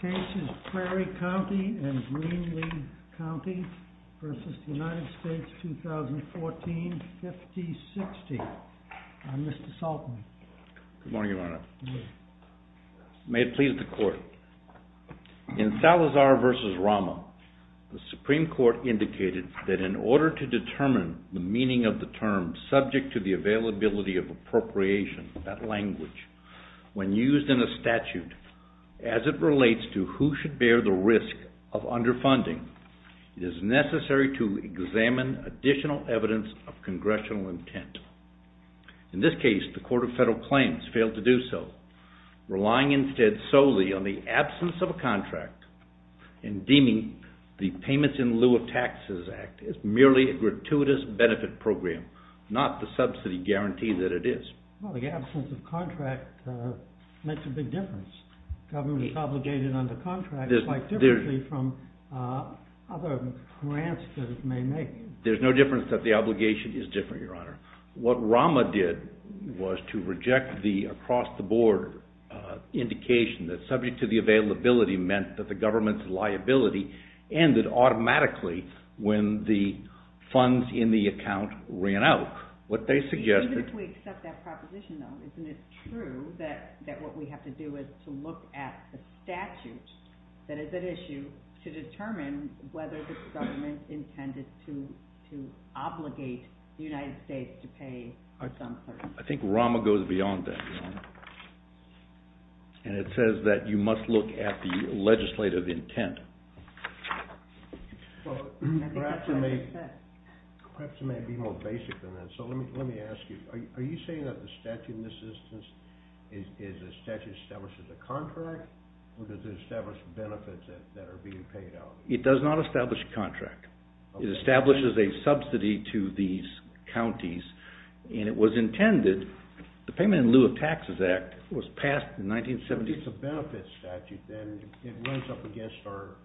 2014, 5060. I'm Mr. Saltner. Good morning, Your Honor. May it please the Court. In Salazar v. Rama, the Supreme Court indicated that in order to determine the meaning of the term subject to the availability of appropriation, that language, when used in a statute as it relates to who should bear the risk of underfunding, it is necessary to examine additional evidence of congressional intent. In this case, the Court of Federal Claims failed to do so, relying instead solely on the absence of a contract and deeming the Payments in Lieu of Taxes Act as merely a gratuitous benefit program, not the subsidy guarantee that it is. Well, the absence of a contract makes a big difference. The government is obligated under contract quite differently from other grants that it may make. There's no difference that the obligation is different, Your Honor. What Rama did was to reject the across-the-board indication that subject to the availability meant that the government's liability ended automatically when the funds in the account ran out. What they suggested... Even if we accept that proposition, though, isn't it true that what we have to do is to look at the statute that is at issue to determine whether this government intended to obligate the United States to pay some person? I think Rama goes beyond that, Your Honor. And it says that you must look at the legislative intent. Perhaps it may be more basic than that. So let me ask you, are you saying that the statute in this instance establishes a contract or does it establish benefits that are being paid out? It does not establish a contract. It establishes a subsidy to these counties and it was intended, the Payment in Lieu of Taxes Act was passed in 1970... If it's a benefits statute, then it runs up against our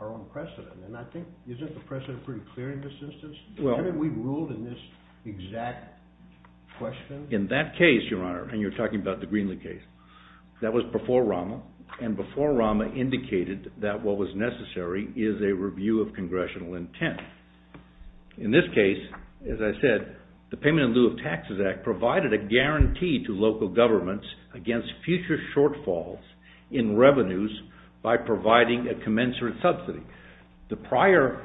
own precedent. And I think, isn't the precedent pretty clear in this instance? Well... Haven't we ruled in this exact question? In that case, Your Honor, and you're talking about the Greenlee case, that was before Rama, and before Rama indicated that what was necessary is a review of congressional intent. In this case, as I said, the Payment in Lieu of Taxes Act provided a guarantee to local governments against future shortfalls in revenues by providing a commensurate subsidy. The prior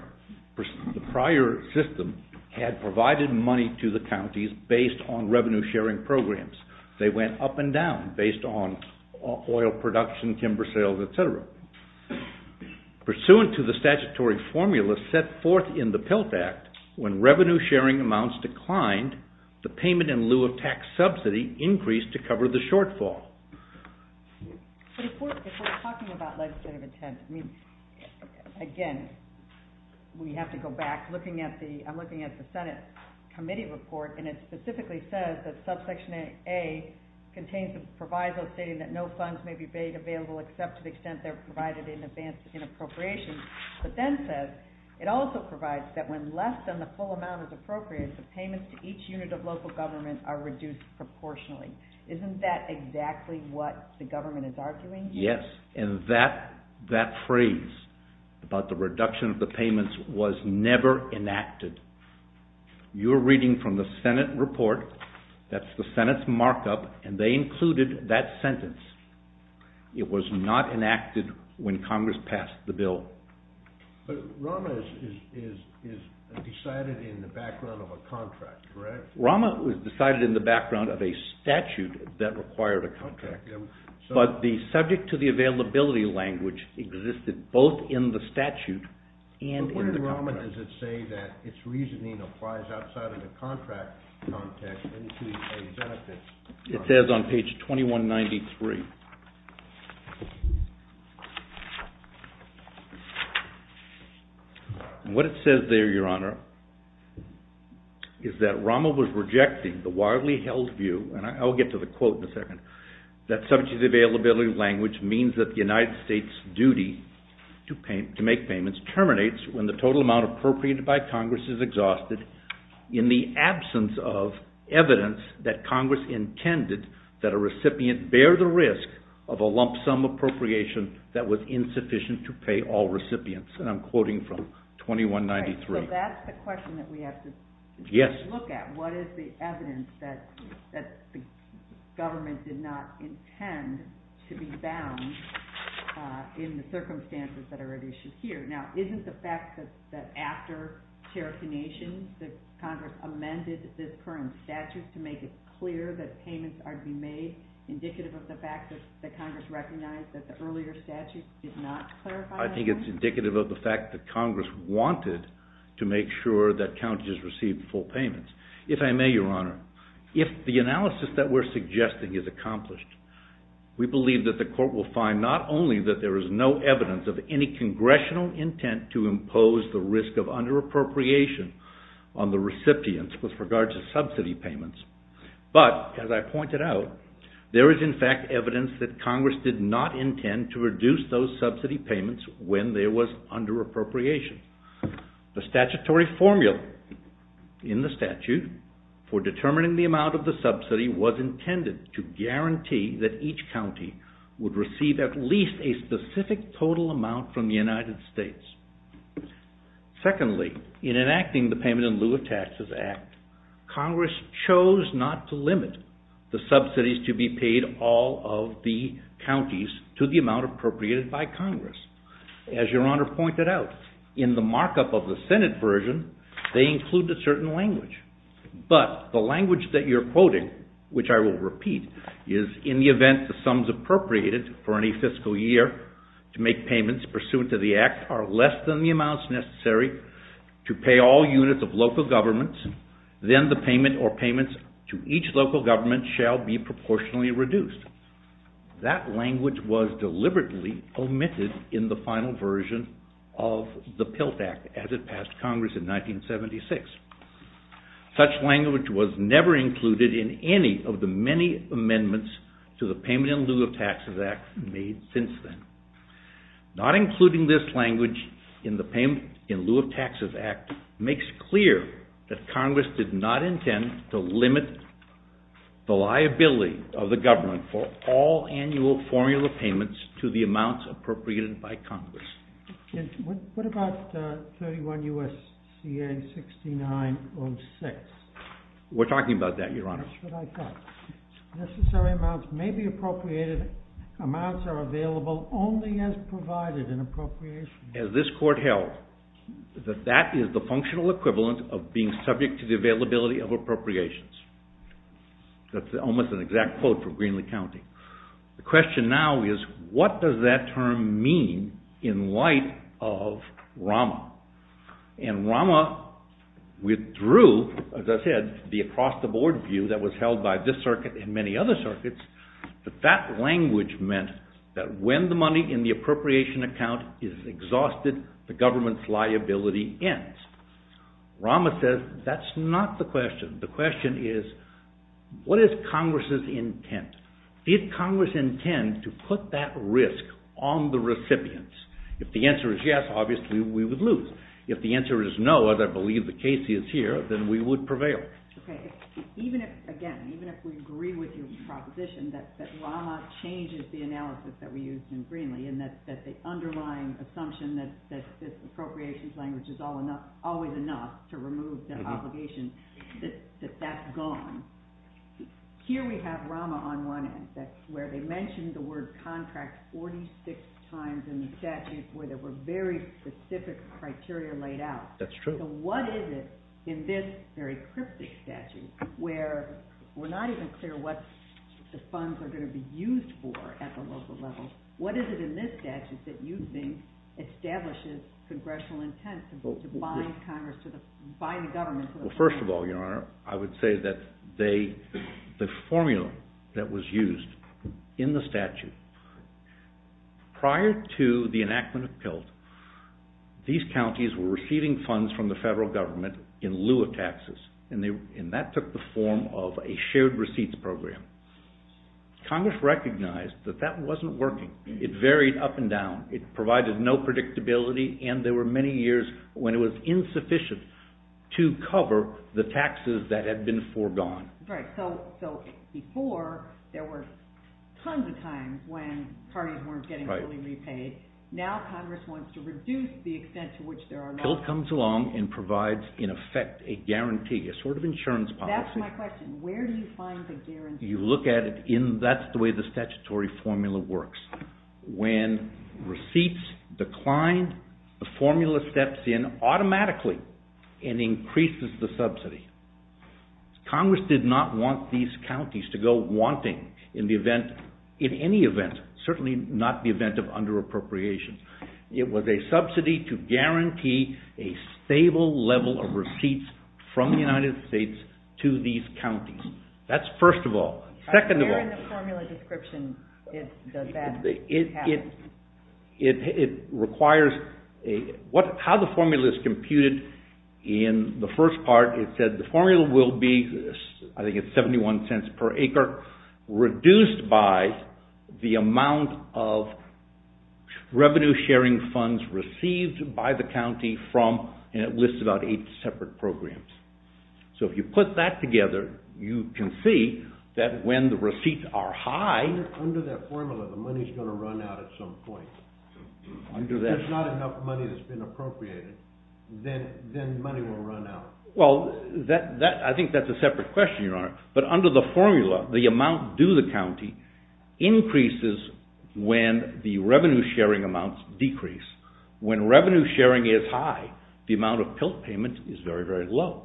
system had provided money to the counties based on revenue sharing programs. They went up and down based on oil production, timber sales, etc. Pursuant to the statutory formula set forth in the PILT Act, when revenue sharing amounts declined, the payment in lieu of tax subsidy increased to cover the shortfall. But if we're talking about legislative intent, I mean, again, we have to go back. I'm looking at the Senate committee report, and it specifically says that subsection A contains the proviso stating that no funds may be made available except to the extent they're provided in advance in appropriation. But then it says, it also provides that when less than the full amount is appropriated, the payments to each unit of local government are reduced proportionally. Isn't that exactly what the government is arguing here? Yes, and that phrase about the reduction of the payments was never enacted. You're reading from the Senate report, that's the Senate's markup, and they included that sentence. It was not enacted when Congress passed the bill. But ROMA is decided in the background of a contract, correct? ROMA was decided in the background of a statute that required a contract, but the subject-to-the-availability language existed both in the statute and in the contract. What does it say that its reasoning applies outside of the contract context and to the benefits? It says on page 2193, and what it says there, Your Honor, is that ROMA was rejecting the widely held view, and I'll get to the quote in a second, that subject-to-the-availability language means that the United States' duty to make payments terminates when the total amount appropriated by Congress is exhausted, in the absence of evidence that Congress intended that a recipient bear the risk of a lump sum appropriation that was insufficient to pay all recipients. And I'm quoting from 2193. So that's the question that we have to look at. What is the evidence that the government did not intend to be bound in the circumstances that are at issue here? Now, isn't the fact that after Cherokee Nation, that Congress amended this current statute to make it clear that payments are to be made indicative of the fact that Congress recognized that the earlier statute did not clarify that? I think it's indicative of the fact that Congress wanted to make sure that counties received full payments. If I may, Your Honor, if the analysis that we're suggesting is accomplished, we believe that the court will find not only that there is no evidence of any congressional intent to impose the risk of under-appropriation on the recipients with regard to subsidy payments, but, as I pointed out, there is in fact evidence that Congress did not intend to reduce those subsidy payments when there was under-appropriation. The statutory formula in the statute for determining the amount of the subsidy was intended to guarantee that each county would receive at least a specific total amount from the United States. Secondly, in enacting the Payment in Lieu of Taxes Act, Congress chose not to limit the subsidies to be paid all of the counties to the amount appropriated by Congress. As Your Honor pointed out, in the markup of the Senate version, they include a certain language. But the language that you're quoting, which I will repeat, is, in the event the sums appropriated for any fiscal year to make payments pursuant to the Act are less than the amounts necessary to pay all units of local governments, then the payment or payments to each local government shall be proportionally reduced. That language was deliberately omitted in the final version of the PILT Act as it passed Congress in 1976. Such language was never included in any of the many amendments to the Payment in Lieu of Taxes Act made since then. Not including this language in the Payment in Lieu of Taxes Act makes clear that Congress did not intend to limit the liability of the government for all annual formula payments to the amounts appropriated by Congress. What about 31 U.S.C.A. 6906? We're talking about that, Your Honor. That's what I thought. Necessary amounts may be appropriated, amounts are available only as provided in appropriations. As this Court held, that that is the functional equivalent of being subject to the availability of appropriations. That's almost an exact quote from Greenlee County. The question now is, what does that term mean in light of ROMA? And ROMA withdrew, as I said, the across-the-board view that was held by this circuit and many other circuits, but that language meant that when the money in the appropriation account is exhausted, the government's liability ends. ROMA says that's not the question. The question is, what is Congress's intent? Did Congress intend to put that risk on the recipients? If the answer is yes, obviously we would lose. If the answer is no, as I believe the case is here, then we would prevail. Okay. Even if, again, even if we agree with your proposition that ROMA changes the analysis that we used in Greenlee, and that the underlying assumption that this appropriations language is always enough to remove the obligation, that that's gone. Here we have ROMA on one end where they mentioned the word contract 46 times in the statute where there were very specific criteria laid out. That's true. So what is it in this very cryptic statute where we're not even clear what the funds are going to be used for at the local level? What is it in this statute that you think establishes congressional intent to bind Congress to the, bind the government to the contract? Well, first of all, Your Honor, I would say that they, the formula that was used in the statute, prior to the enactment of PILT, these counties were receiving funds from the federal government in lieu of taxes. And that took the form of a shared receipts program. Congress recognized that that wasn't working. It varied up and down. It provided no predictability. And there were many years when it was insufficient to cover the taxes that had been foregone. Right. So before, there were tons of times when parties weren't getting fully repaid. Now Congress wants to reduce the extent to which there are no… PILT comes along and provides, in effect, a guarantee, a sort of insurance policy. That's my question. Where do you find the guarantee? You look at it in, that's the way the statutory formula works. When receipts decline, the formula steps in automatically and increases the subsidy. Congress did not want these counties to go wanting in the event, in any event, certainly not the event of under-appropriation. It was a subsidy to guarantee a stable level of receipts from the United States to these counties. That's first of all. Second of all… Where in the formula description does that happen? It requires, how the formula is computed in the first part, it said the formula will be, I think it's 71 cents per acre, reduced by the amount of revenue sharing funds received by the county from, and it lists about eight separate programs. So if you put that together, you can see that when the receipts are high… Under that formula, the money's going to run out at some point. Under that… If there's not enough money that's been appropriated, then money will run out. Well, I think that's a separate question, Your Honor. But under the formula, the amount due to the county increases when the revenue sharing amounts decrease. When revenue sharing is high, the amount of PILT payment is very, very low.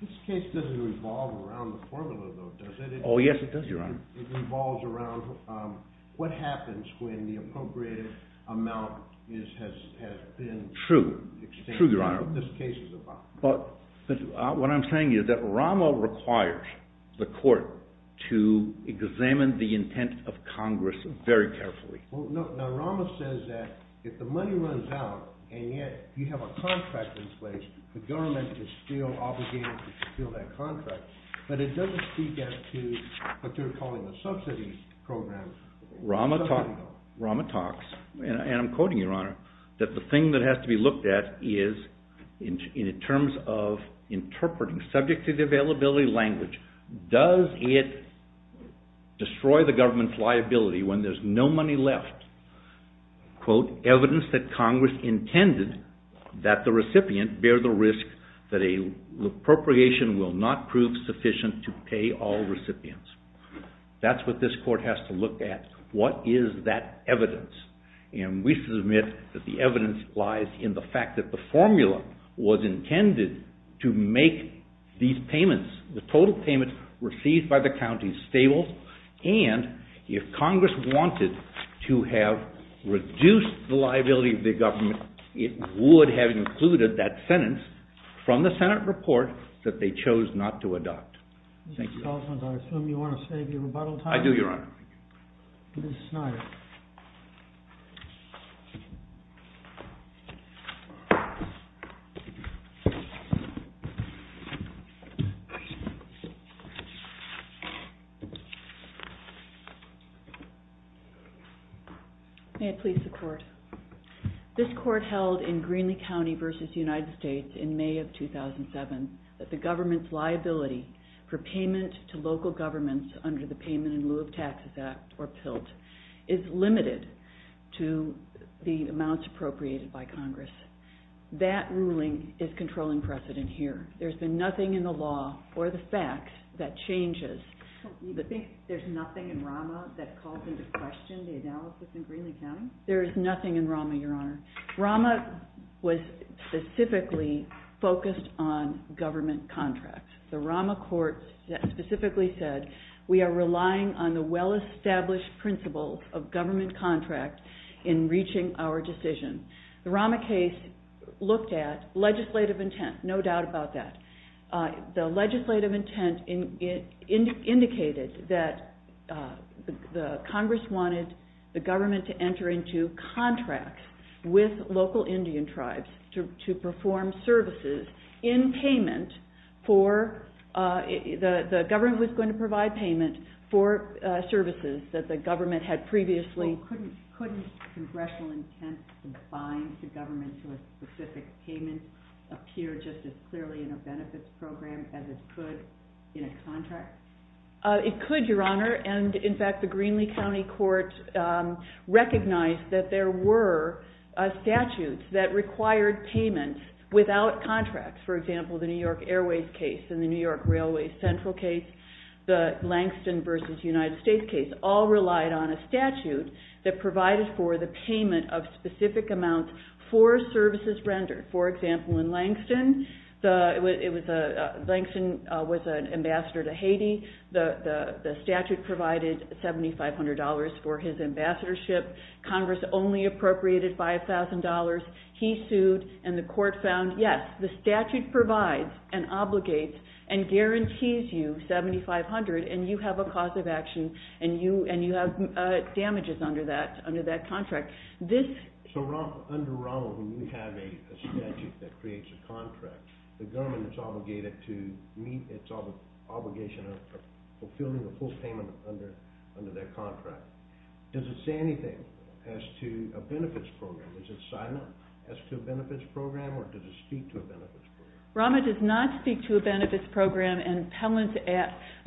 This case doesn't revolve around the formula, though, does it? Oh, yes, it does, Your Honor. It revolves around what happens when the appropriated amount has been… True. True, Your Honor. What this case is about. But what I'm saying is that Rama requires the court to examine the intent of Congress very carefully. Now, Rama says that if the money runs out, and yet you have a contract in place, the government is still obligated to fulfill that contract. But it doesn't speak out to what they're calling the subsidies program. Rama talks, and I'm quoting you, Your Honor, that the thing that has to be looked at is in terms of interpreting, subject to the availability language, does it destroy the government's liability when there's no money left? Quote, evidence that Congress intended that the recipient bear the risk that an appropriation will not prove sufficient to pay all recipients. That's what this court has to look at. What is that evidence? And we submit that the evidence lies in the fact that the formula was intended to make these payments, the total payments received by the counties, stable. And if Congress wanted to have reduced the liability of the government, it would have included that sentence from the Senate report that they chose not to adopt. Thank you. Mr. Salzman, I assume you want to save your rebuttal time? I do, Your Honor. Ms. Snyder. May it please the Court. This court held in Greenlee County v. United States in May of 2007 that the government's liability for payment to local governments under the Payment in Lieu of Taxes Act, or PILT, is limited to the amounts appropriated by Congress. That ruling is controlling precedent here. There's been nothing in the law or the facts that changes. You think there's nothing in Rama that calls into question the analysis in Greenlee County? There is nothing in Rama, Your Honor. Rama was specifically focused on government contracts. The Rama court specifically said, we are relying on the well-established principles of government contracts in reaching our decision. The Rama case looked at legislative intent, no doubt about that. The legislative intent indicated that Congress wanted the government to enter into contracts with local Indian tribes to perform services in payment for, the government was going to provide payment for services that the government had previously. Couldn't congressional intent to bind the government to a specific payment appear just as clearly in a benefits program as it could in a contract? Your Honor, and in fact the Greenlee County Court recognized that there were statutes that required payments without contracts. For example, the New York Airways case and the New York Railway Central case, the Langston versus United States case, all relied on a statute that provided for the payment of specific amounts for services rendered. For example, in Langston, Langston was an ambassador to Haiti. The statute provided $7,500 for his ambassadorship. Congress only appropriated $5,000. He sued, and the court found, yes, the statute provides and obligates and guarantees you $7,500, and you have a cause of action, and you have damages under that contract. So under ROMA, when you have a statute that creates a contract, the government is obligated to meet its obligation of fulfilling the full payment under that contract. Does it say anything as to a benefits program? Is it silent as to a benefits program, or does it speak to a benefits program? ROMA does not speak to a benefits program, and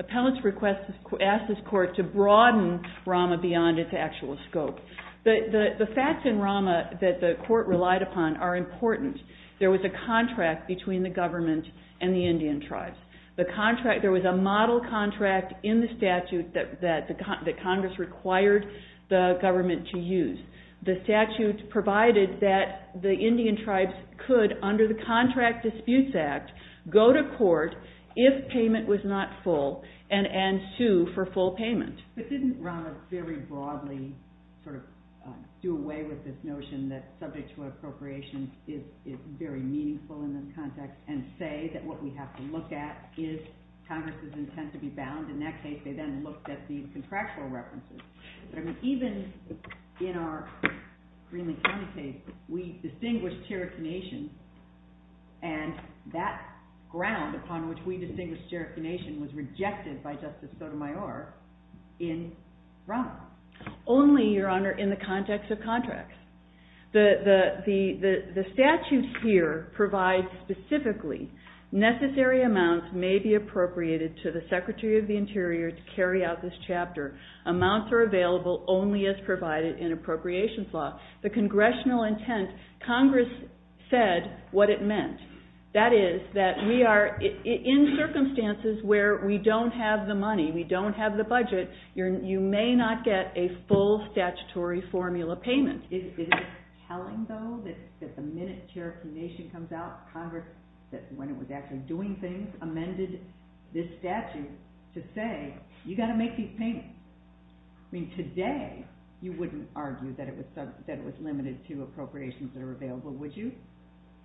appellants request, ask this court to broaden ROMA beyond its actual scope. The facts in ROMA that the court relied upon are important. There was a contract between the government and the Indian tribes. There was a model contract in the statute that Congress required the government to use. The statute provided that the Indian tribes could, under the Contract Disputes Act, go to court if payment was not full and sue for full payment. But didn't ROMA very broadly do away with this notion that subject to appropriation is very meaningful in this context and say that what we have to look at is Congress's intent to be bound? In that case, they then looked at the contractual references. Even in our Greenland County case, we distinguished Cherokee Nation, and that ground upon which we distinguished Cherokee Nation was rejected by Justice Sotomayor in ROMA. Only, Your Honor, in the context of contracts. The statutes here provide specifically necessary amounts may be appropriated to the Secretary of the Interior to carry out this chapter. Amounts are available only as provided in appropriations law. The congressional intent, Congress said what it meant. That is, that we are in circumstances where we don't have the money, we don't have the budget, you may not get a full statutory formula payment. Is it telling, though, that the minute Cherokee Nation comes out, Congress, when it was actually doing things, amended this statute to say, you've got to make these payments? I mean, today, you wouldn't argue that it was limited to appropriations that are available, would you?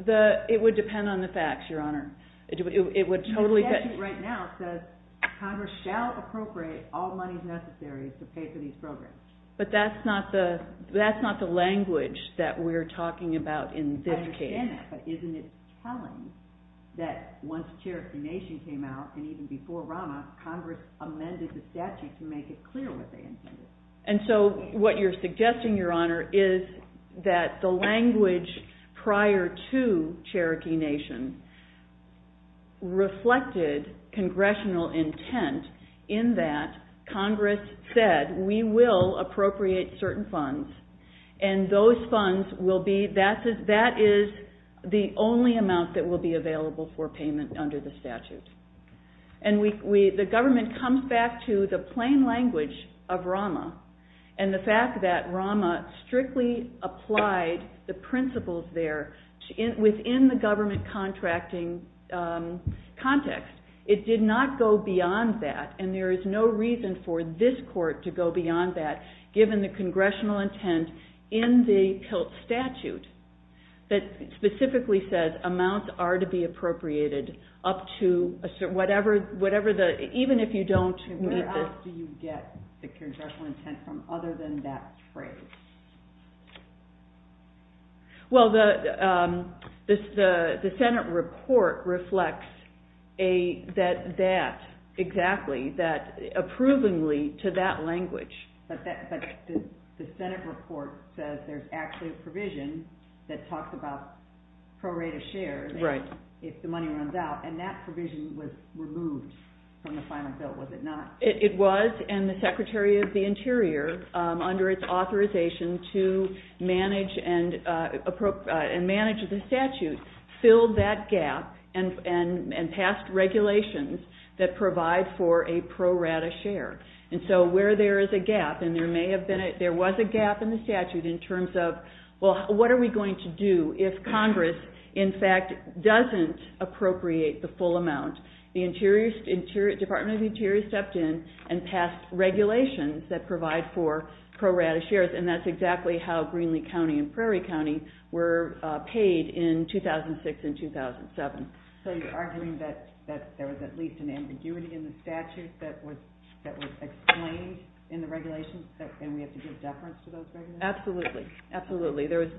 It would depend on the facts, Your Honor. The statute right now says, Congress shall appropriate all monies necessary to pay for these programs. But that's not the language that we're talking about in this case. I understand that, but isn't it telling that once Cherokee Nation came out, and even before ROMA, Congress amended the statute to make it clear what they intended? And so what you're suggesting, Your Honor, is that the language prior to Cherokee Nation reflected congressional intent in that Congress said, we will appropriate certain funds. And those funds will be, that is the only amount that will be available for payment under the statute. And the government comes back to the plain language of ROMA and the fact that ROMA strictly applied the principles there within the government contracting context. It did not go beyond that, and there is no reason for this court to go beyond that, given the congressional intent in the PILT statute that specifically says, amounts are to be appropriated up to a certain, whatever the, even if you don't meet the. Where else do you get the congressional intent from other than that phrase? Well, the Senate report reflects that, exactly, approvingly to that language. But the Senate report says there's actually a provision that talks about pro-rate of share if the money runs out, and that provision was removed from the final bill, was it not? It was, and the Secretary of the Interior, under its authorization to manage the statute, filled that gap and passed regulations that provide for a pro-rate of share. And so where there is a gap, and there may have been, there was a gap in the statute in terms of, well, what are we going to do if Congress, in fact, doesn't appropriate the full amount? The Department of the Interior stepped in and passed regulations that provide for pro-rate of shares, and that's exactly how Greenlee County and Prairie County were paid in 2006 and 2007. So you're arguing that there was at least an ambiguity in the statute that was explained in the regulations, and we have to give deference to those regulations? Absolutely, absolutely. If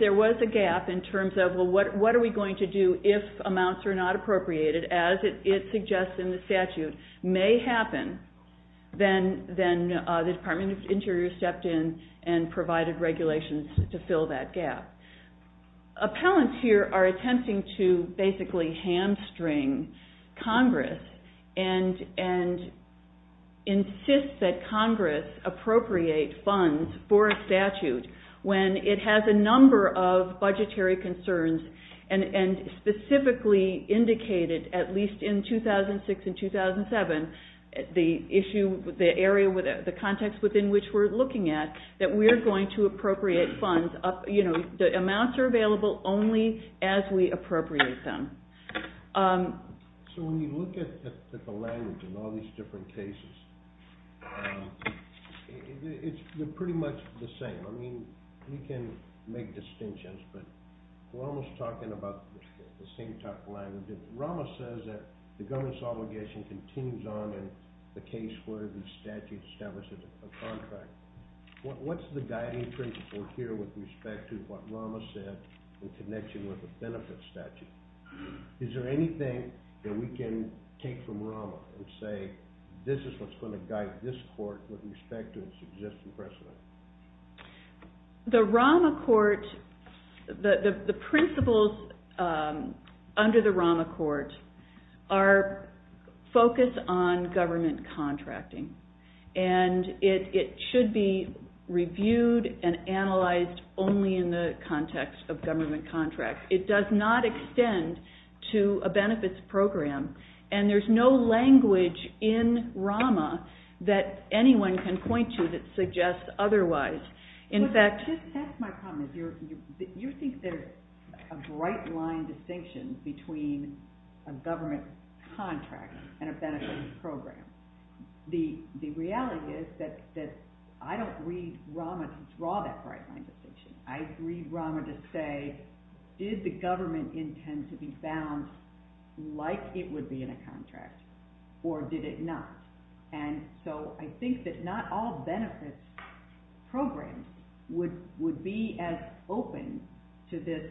there was a gap in terms of, well, what are we going to do if amounts are not appropriated, as it suggests in the statute, may happen, then the Department of the Interior stepped in and provided regulations to fill that gap. Appellants here are attempting to basically hamstring Congress and insist that Congress appropriate funds for a statute when it has a number of budgetary concerns and specifically indicated, at least in 2006 and 2007, the area, the context within which we're looking at, that we're going to appropriate funds, you know, the amounts are available only as we appropriate them. So when you look at the language in all these different cases, they're pretty much the same. I mean, we can make distinctions, but we're almost talking about the same type of language. Rama says that the government's obligation continues on in the case where the statute establishes a contract. What's the guiding principle here with respect to what Rama said in connection with the benefit statute? Is there anything that we can take from Rama and say, this is what's going to guide this court with respect to its existing precedent? The Rama court, the principles under the Rama court are focused on government contracting, and it should be reviewed and analyzed only in the context of government contracts. It does not extend to a benefits program, and there's no language in Rama that anyone can point to that suggests otherwise. You think there's a bright line distinction between a government contract and a benefits program. The reality is that I don't read Rama to draw that bright line distinction. I read Rama to say, did the government intend to be bound like it would be in a contract, or did it not? And so I think that not all benefits programs would be as open to this,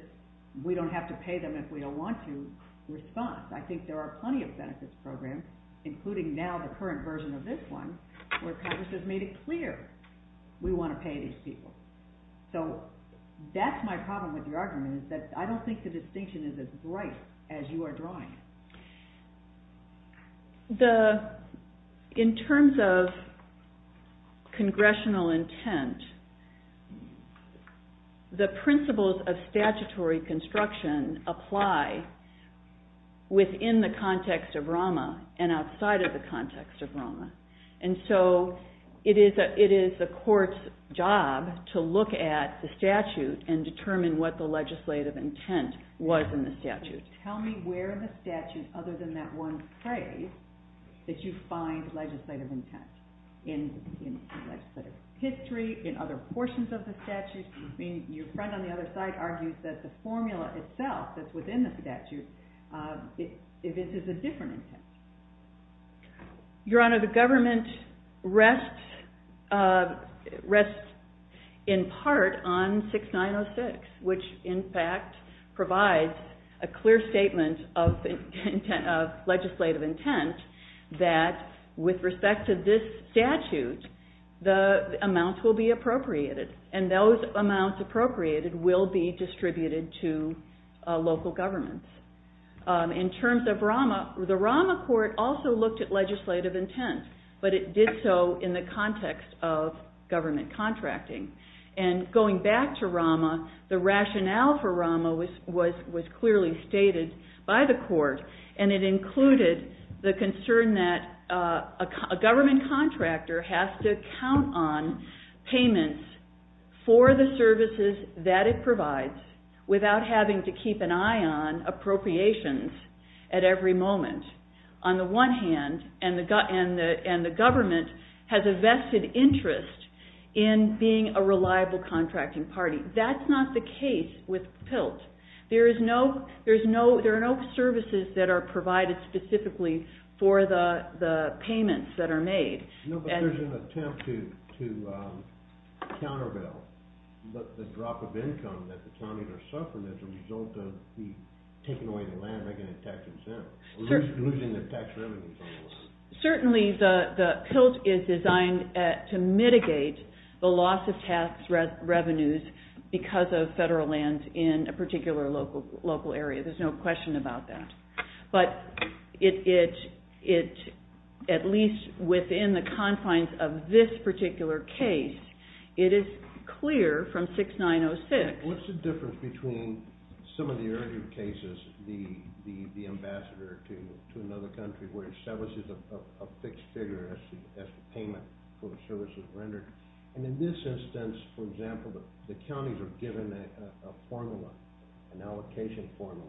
we don't have to pay them if we don't want to, response. I think there are plenty of benefits programs, including now the current version of this one, where Congress has made it clear we want to pay these people. So that's my problem with your argument, is that I don't think the distinction is as bright as you are drawing it. In terms of congressional intent, the principles of statutory construction apply within the context of Rama and outside of the context of Rama. And so it is the court's job to look at the statute and determine what the legislative intent was in the statute. Tell me where in the statute, other than that one phrase, that you find legislative intent. In legislative history, in other portions of the statute? I mean, your friend on the other side argues that the formula itself that's within the statute is a different intent. Your Honor, the government rests in part on 6906, which in fact provides a clear statement of legislative intent that with respect to this statute, the amounts will be appropriated. And those amounts appropriated will be distributed to local governments. In terms of Rama, the Rama court also looked at legislative intent, but it did so in the context of government contracting. And going back to Rama, the rationale for Rama was clearly stated by the court. And it included the concern that a government contractor has to count on payments for the services that it provides without having to keep an eye on appropriations at every moment. On the one hand, and the government has a vested interest in being a reliable contracting party. That's not the case with PILT. There are no services that are provided specifically for the payments that are made. Certainly, the PILT is designed to mitigate the loss of tax revenues because of federal lands in a particular local area. There's no question about that. But at least within the confines of this particular case, it is clear from 6906. What's the difference between some of the earlier cases, the ambassador to another country where he establishes a fixed figure as the payment for the services rendered. And in this instance, for example, the counties are given a formula, an allocation formula.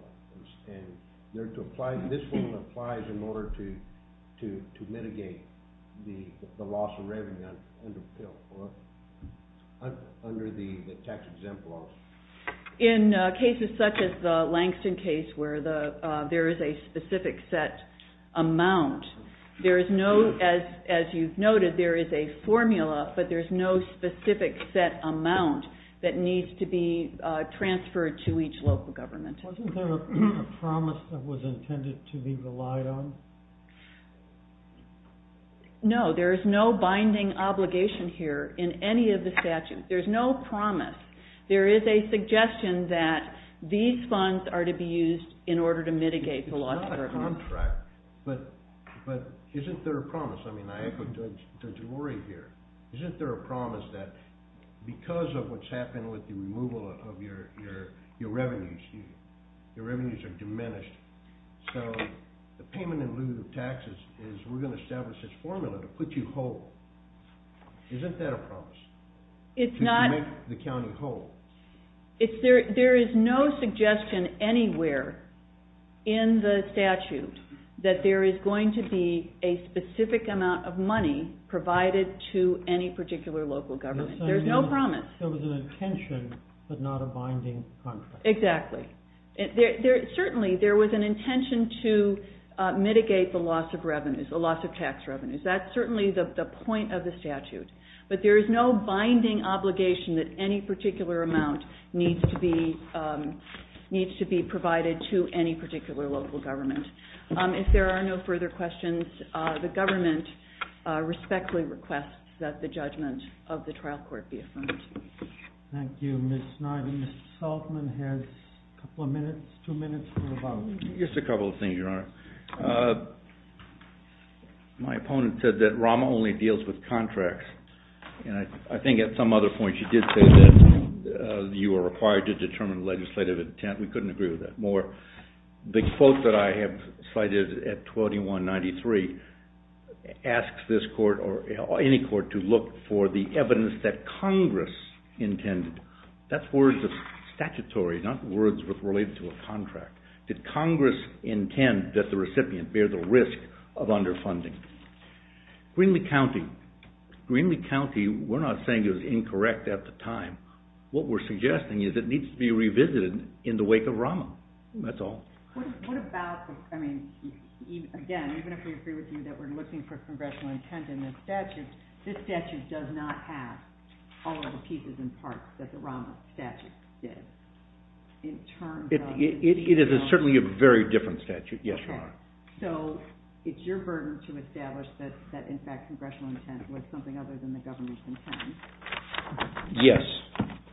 In cases such as the Langston case where there is a specific set amount, there is no, as you've noted, there is a formula, but there is no specific set amount that needs to be transferred to each local government. Wasn't there a promise that was intended to be relied on? No, there is no binding obligation here in any of the statutes. There's no promise. There is a suggestion that these funds are to be used in order to mitigate the loss of their funds. But isn't there a promise? I mean, I echo Judge Lurie here. Isn't there a promise that because of what's happened with the removal of your revenues, your revenues are diminished. So the payment in lieu of taxes is we're going to establish this formula to put you whole. Isn't that a promise? To make the county whole. There is no suggestion anywhere in the statute that there is going to be a specific amount of money provided to any particular local government. There's no promise. There was an intention, but not a binding contract. Exactly. Certainly there was an intention to mitigate the loss of revenues, the loss of tax revenues. That's certainly the point of the statute. But there is no binding obligation that any particular amount needs to be provided to any particular local government. If there are no further questions, the government respectfully requests that the judgment of the trial court be affirmed. Thank you, Ms. Snyder. Mr. Saltzman has a couple of minutes, two minutes for a vote. Just a couple of things, Your Honor. My opponent said that Rama only deals with contracts. And I think at some other point she did say that you are required to determine legislative intent. We couldn't agree with that more. The quote that I have cited at 12193 asks this court or any court to look for the evidence that Congress intended. That's words of statutory, not words related to a contract. Did Congress intend that the recipient bear the risk of underfunding? Greenlee County, we're not saying it was incorrect at the time. What we're suggesting is that it needs to be revisited in the wake of Rama. That's all. What about, I mean, again, even if we agree with you that we're looking for congressional intent in this statute, this statute does not have all of the pieces and parts that the Rama statute did. It is certainly a very different statute, yes, Your Honor. So it's your burden to establish that in fact congressional intent was something other than the government's intent? Yes.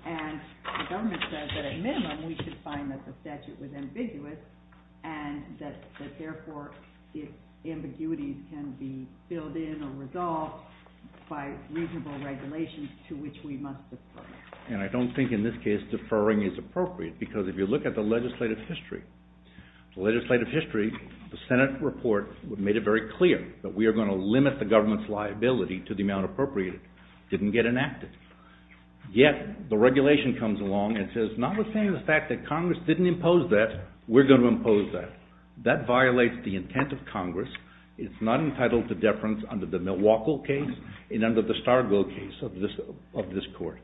And the government says that at minimum we should find that the statute was ambiguous and that therefore its ambiguities can be filled in or resolved by reasonable regulations to which we must defer. And I don't think in this case deferring is appropriate because if you look at the legislative history, the legislative history, the Senate report made it very clear that we are going to limit the government's liability to the amount appropriated. It didn't get enacted. Yet the regulation comes along and says notwithstanding the fact that Congress didn't impose that, we're going to impose that. That violates the intent of Congress. It's not entitled to deference under the Milwaukee case and under the Stargo case of this court.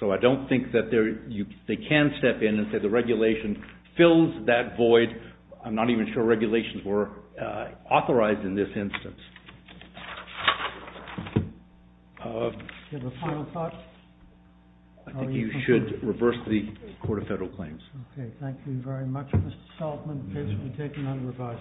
So I don't think that they can step in and say the regulation fills that void. I'm not even sure regulations were authorized in this instance. Do you have a final thought? I think you should reverse the Court of Federal Claims. Okay. Thank you very much, Mr. Saltzman. The case will be taken under revised.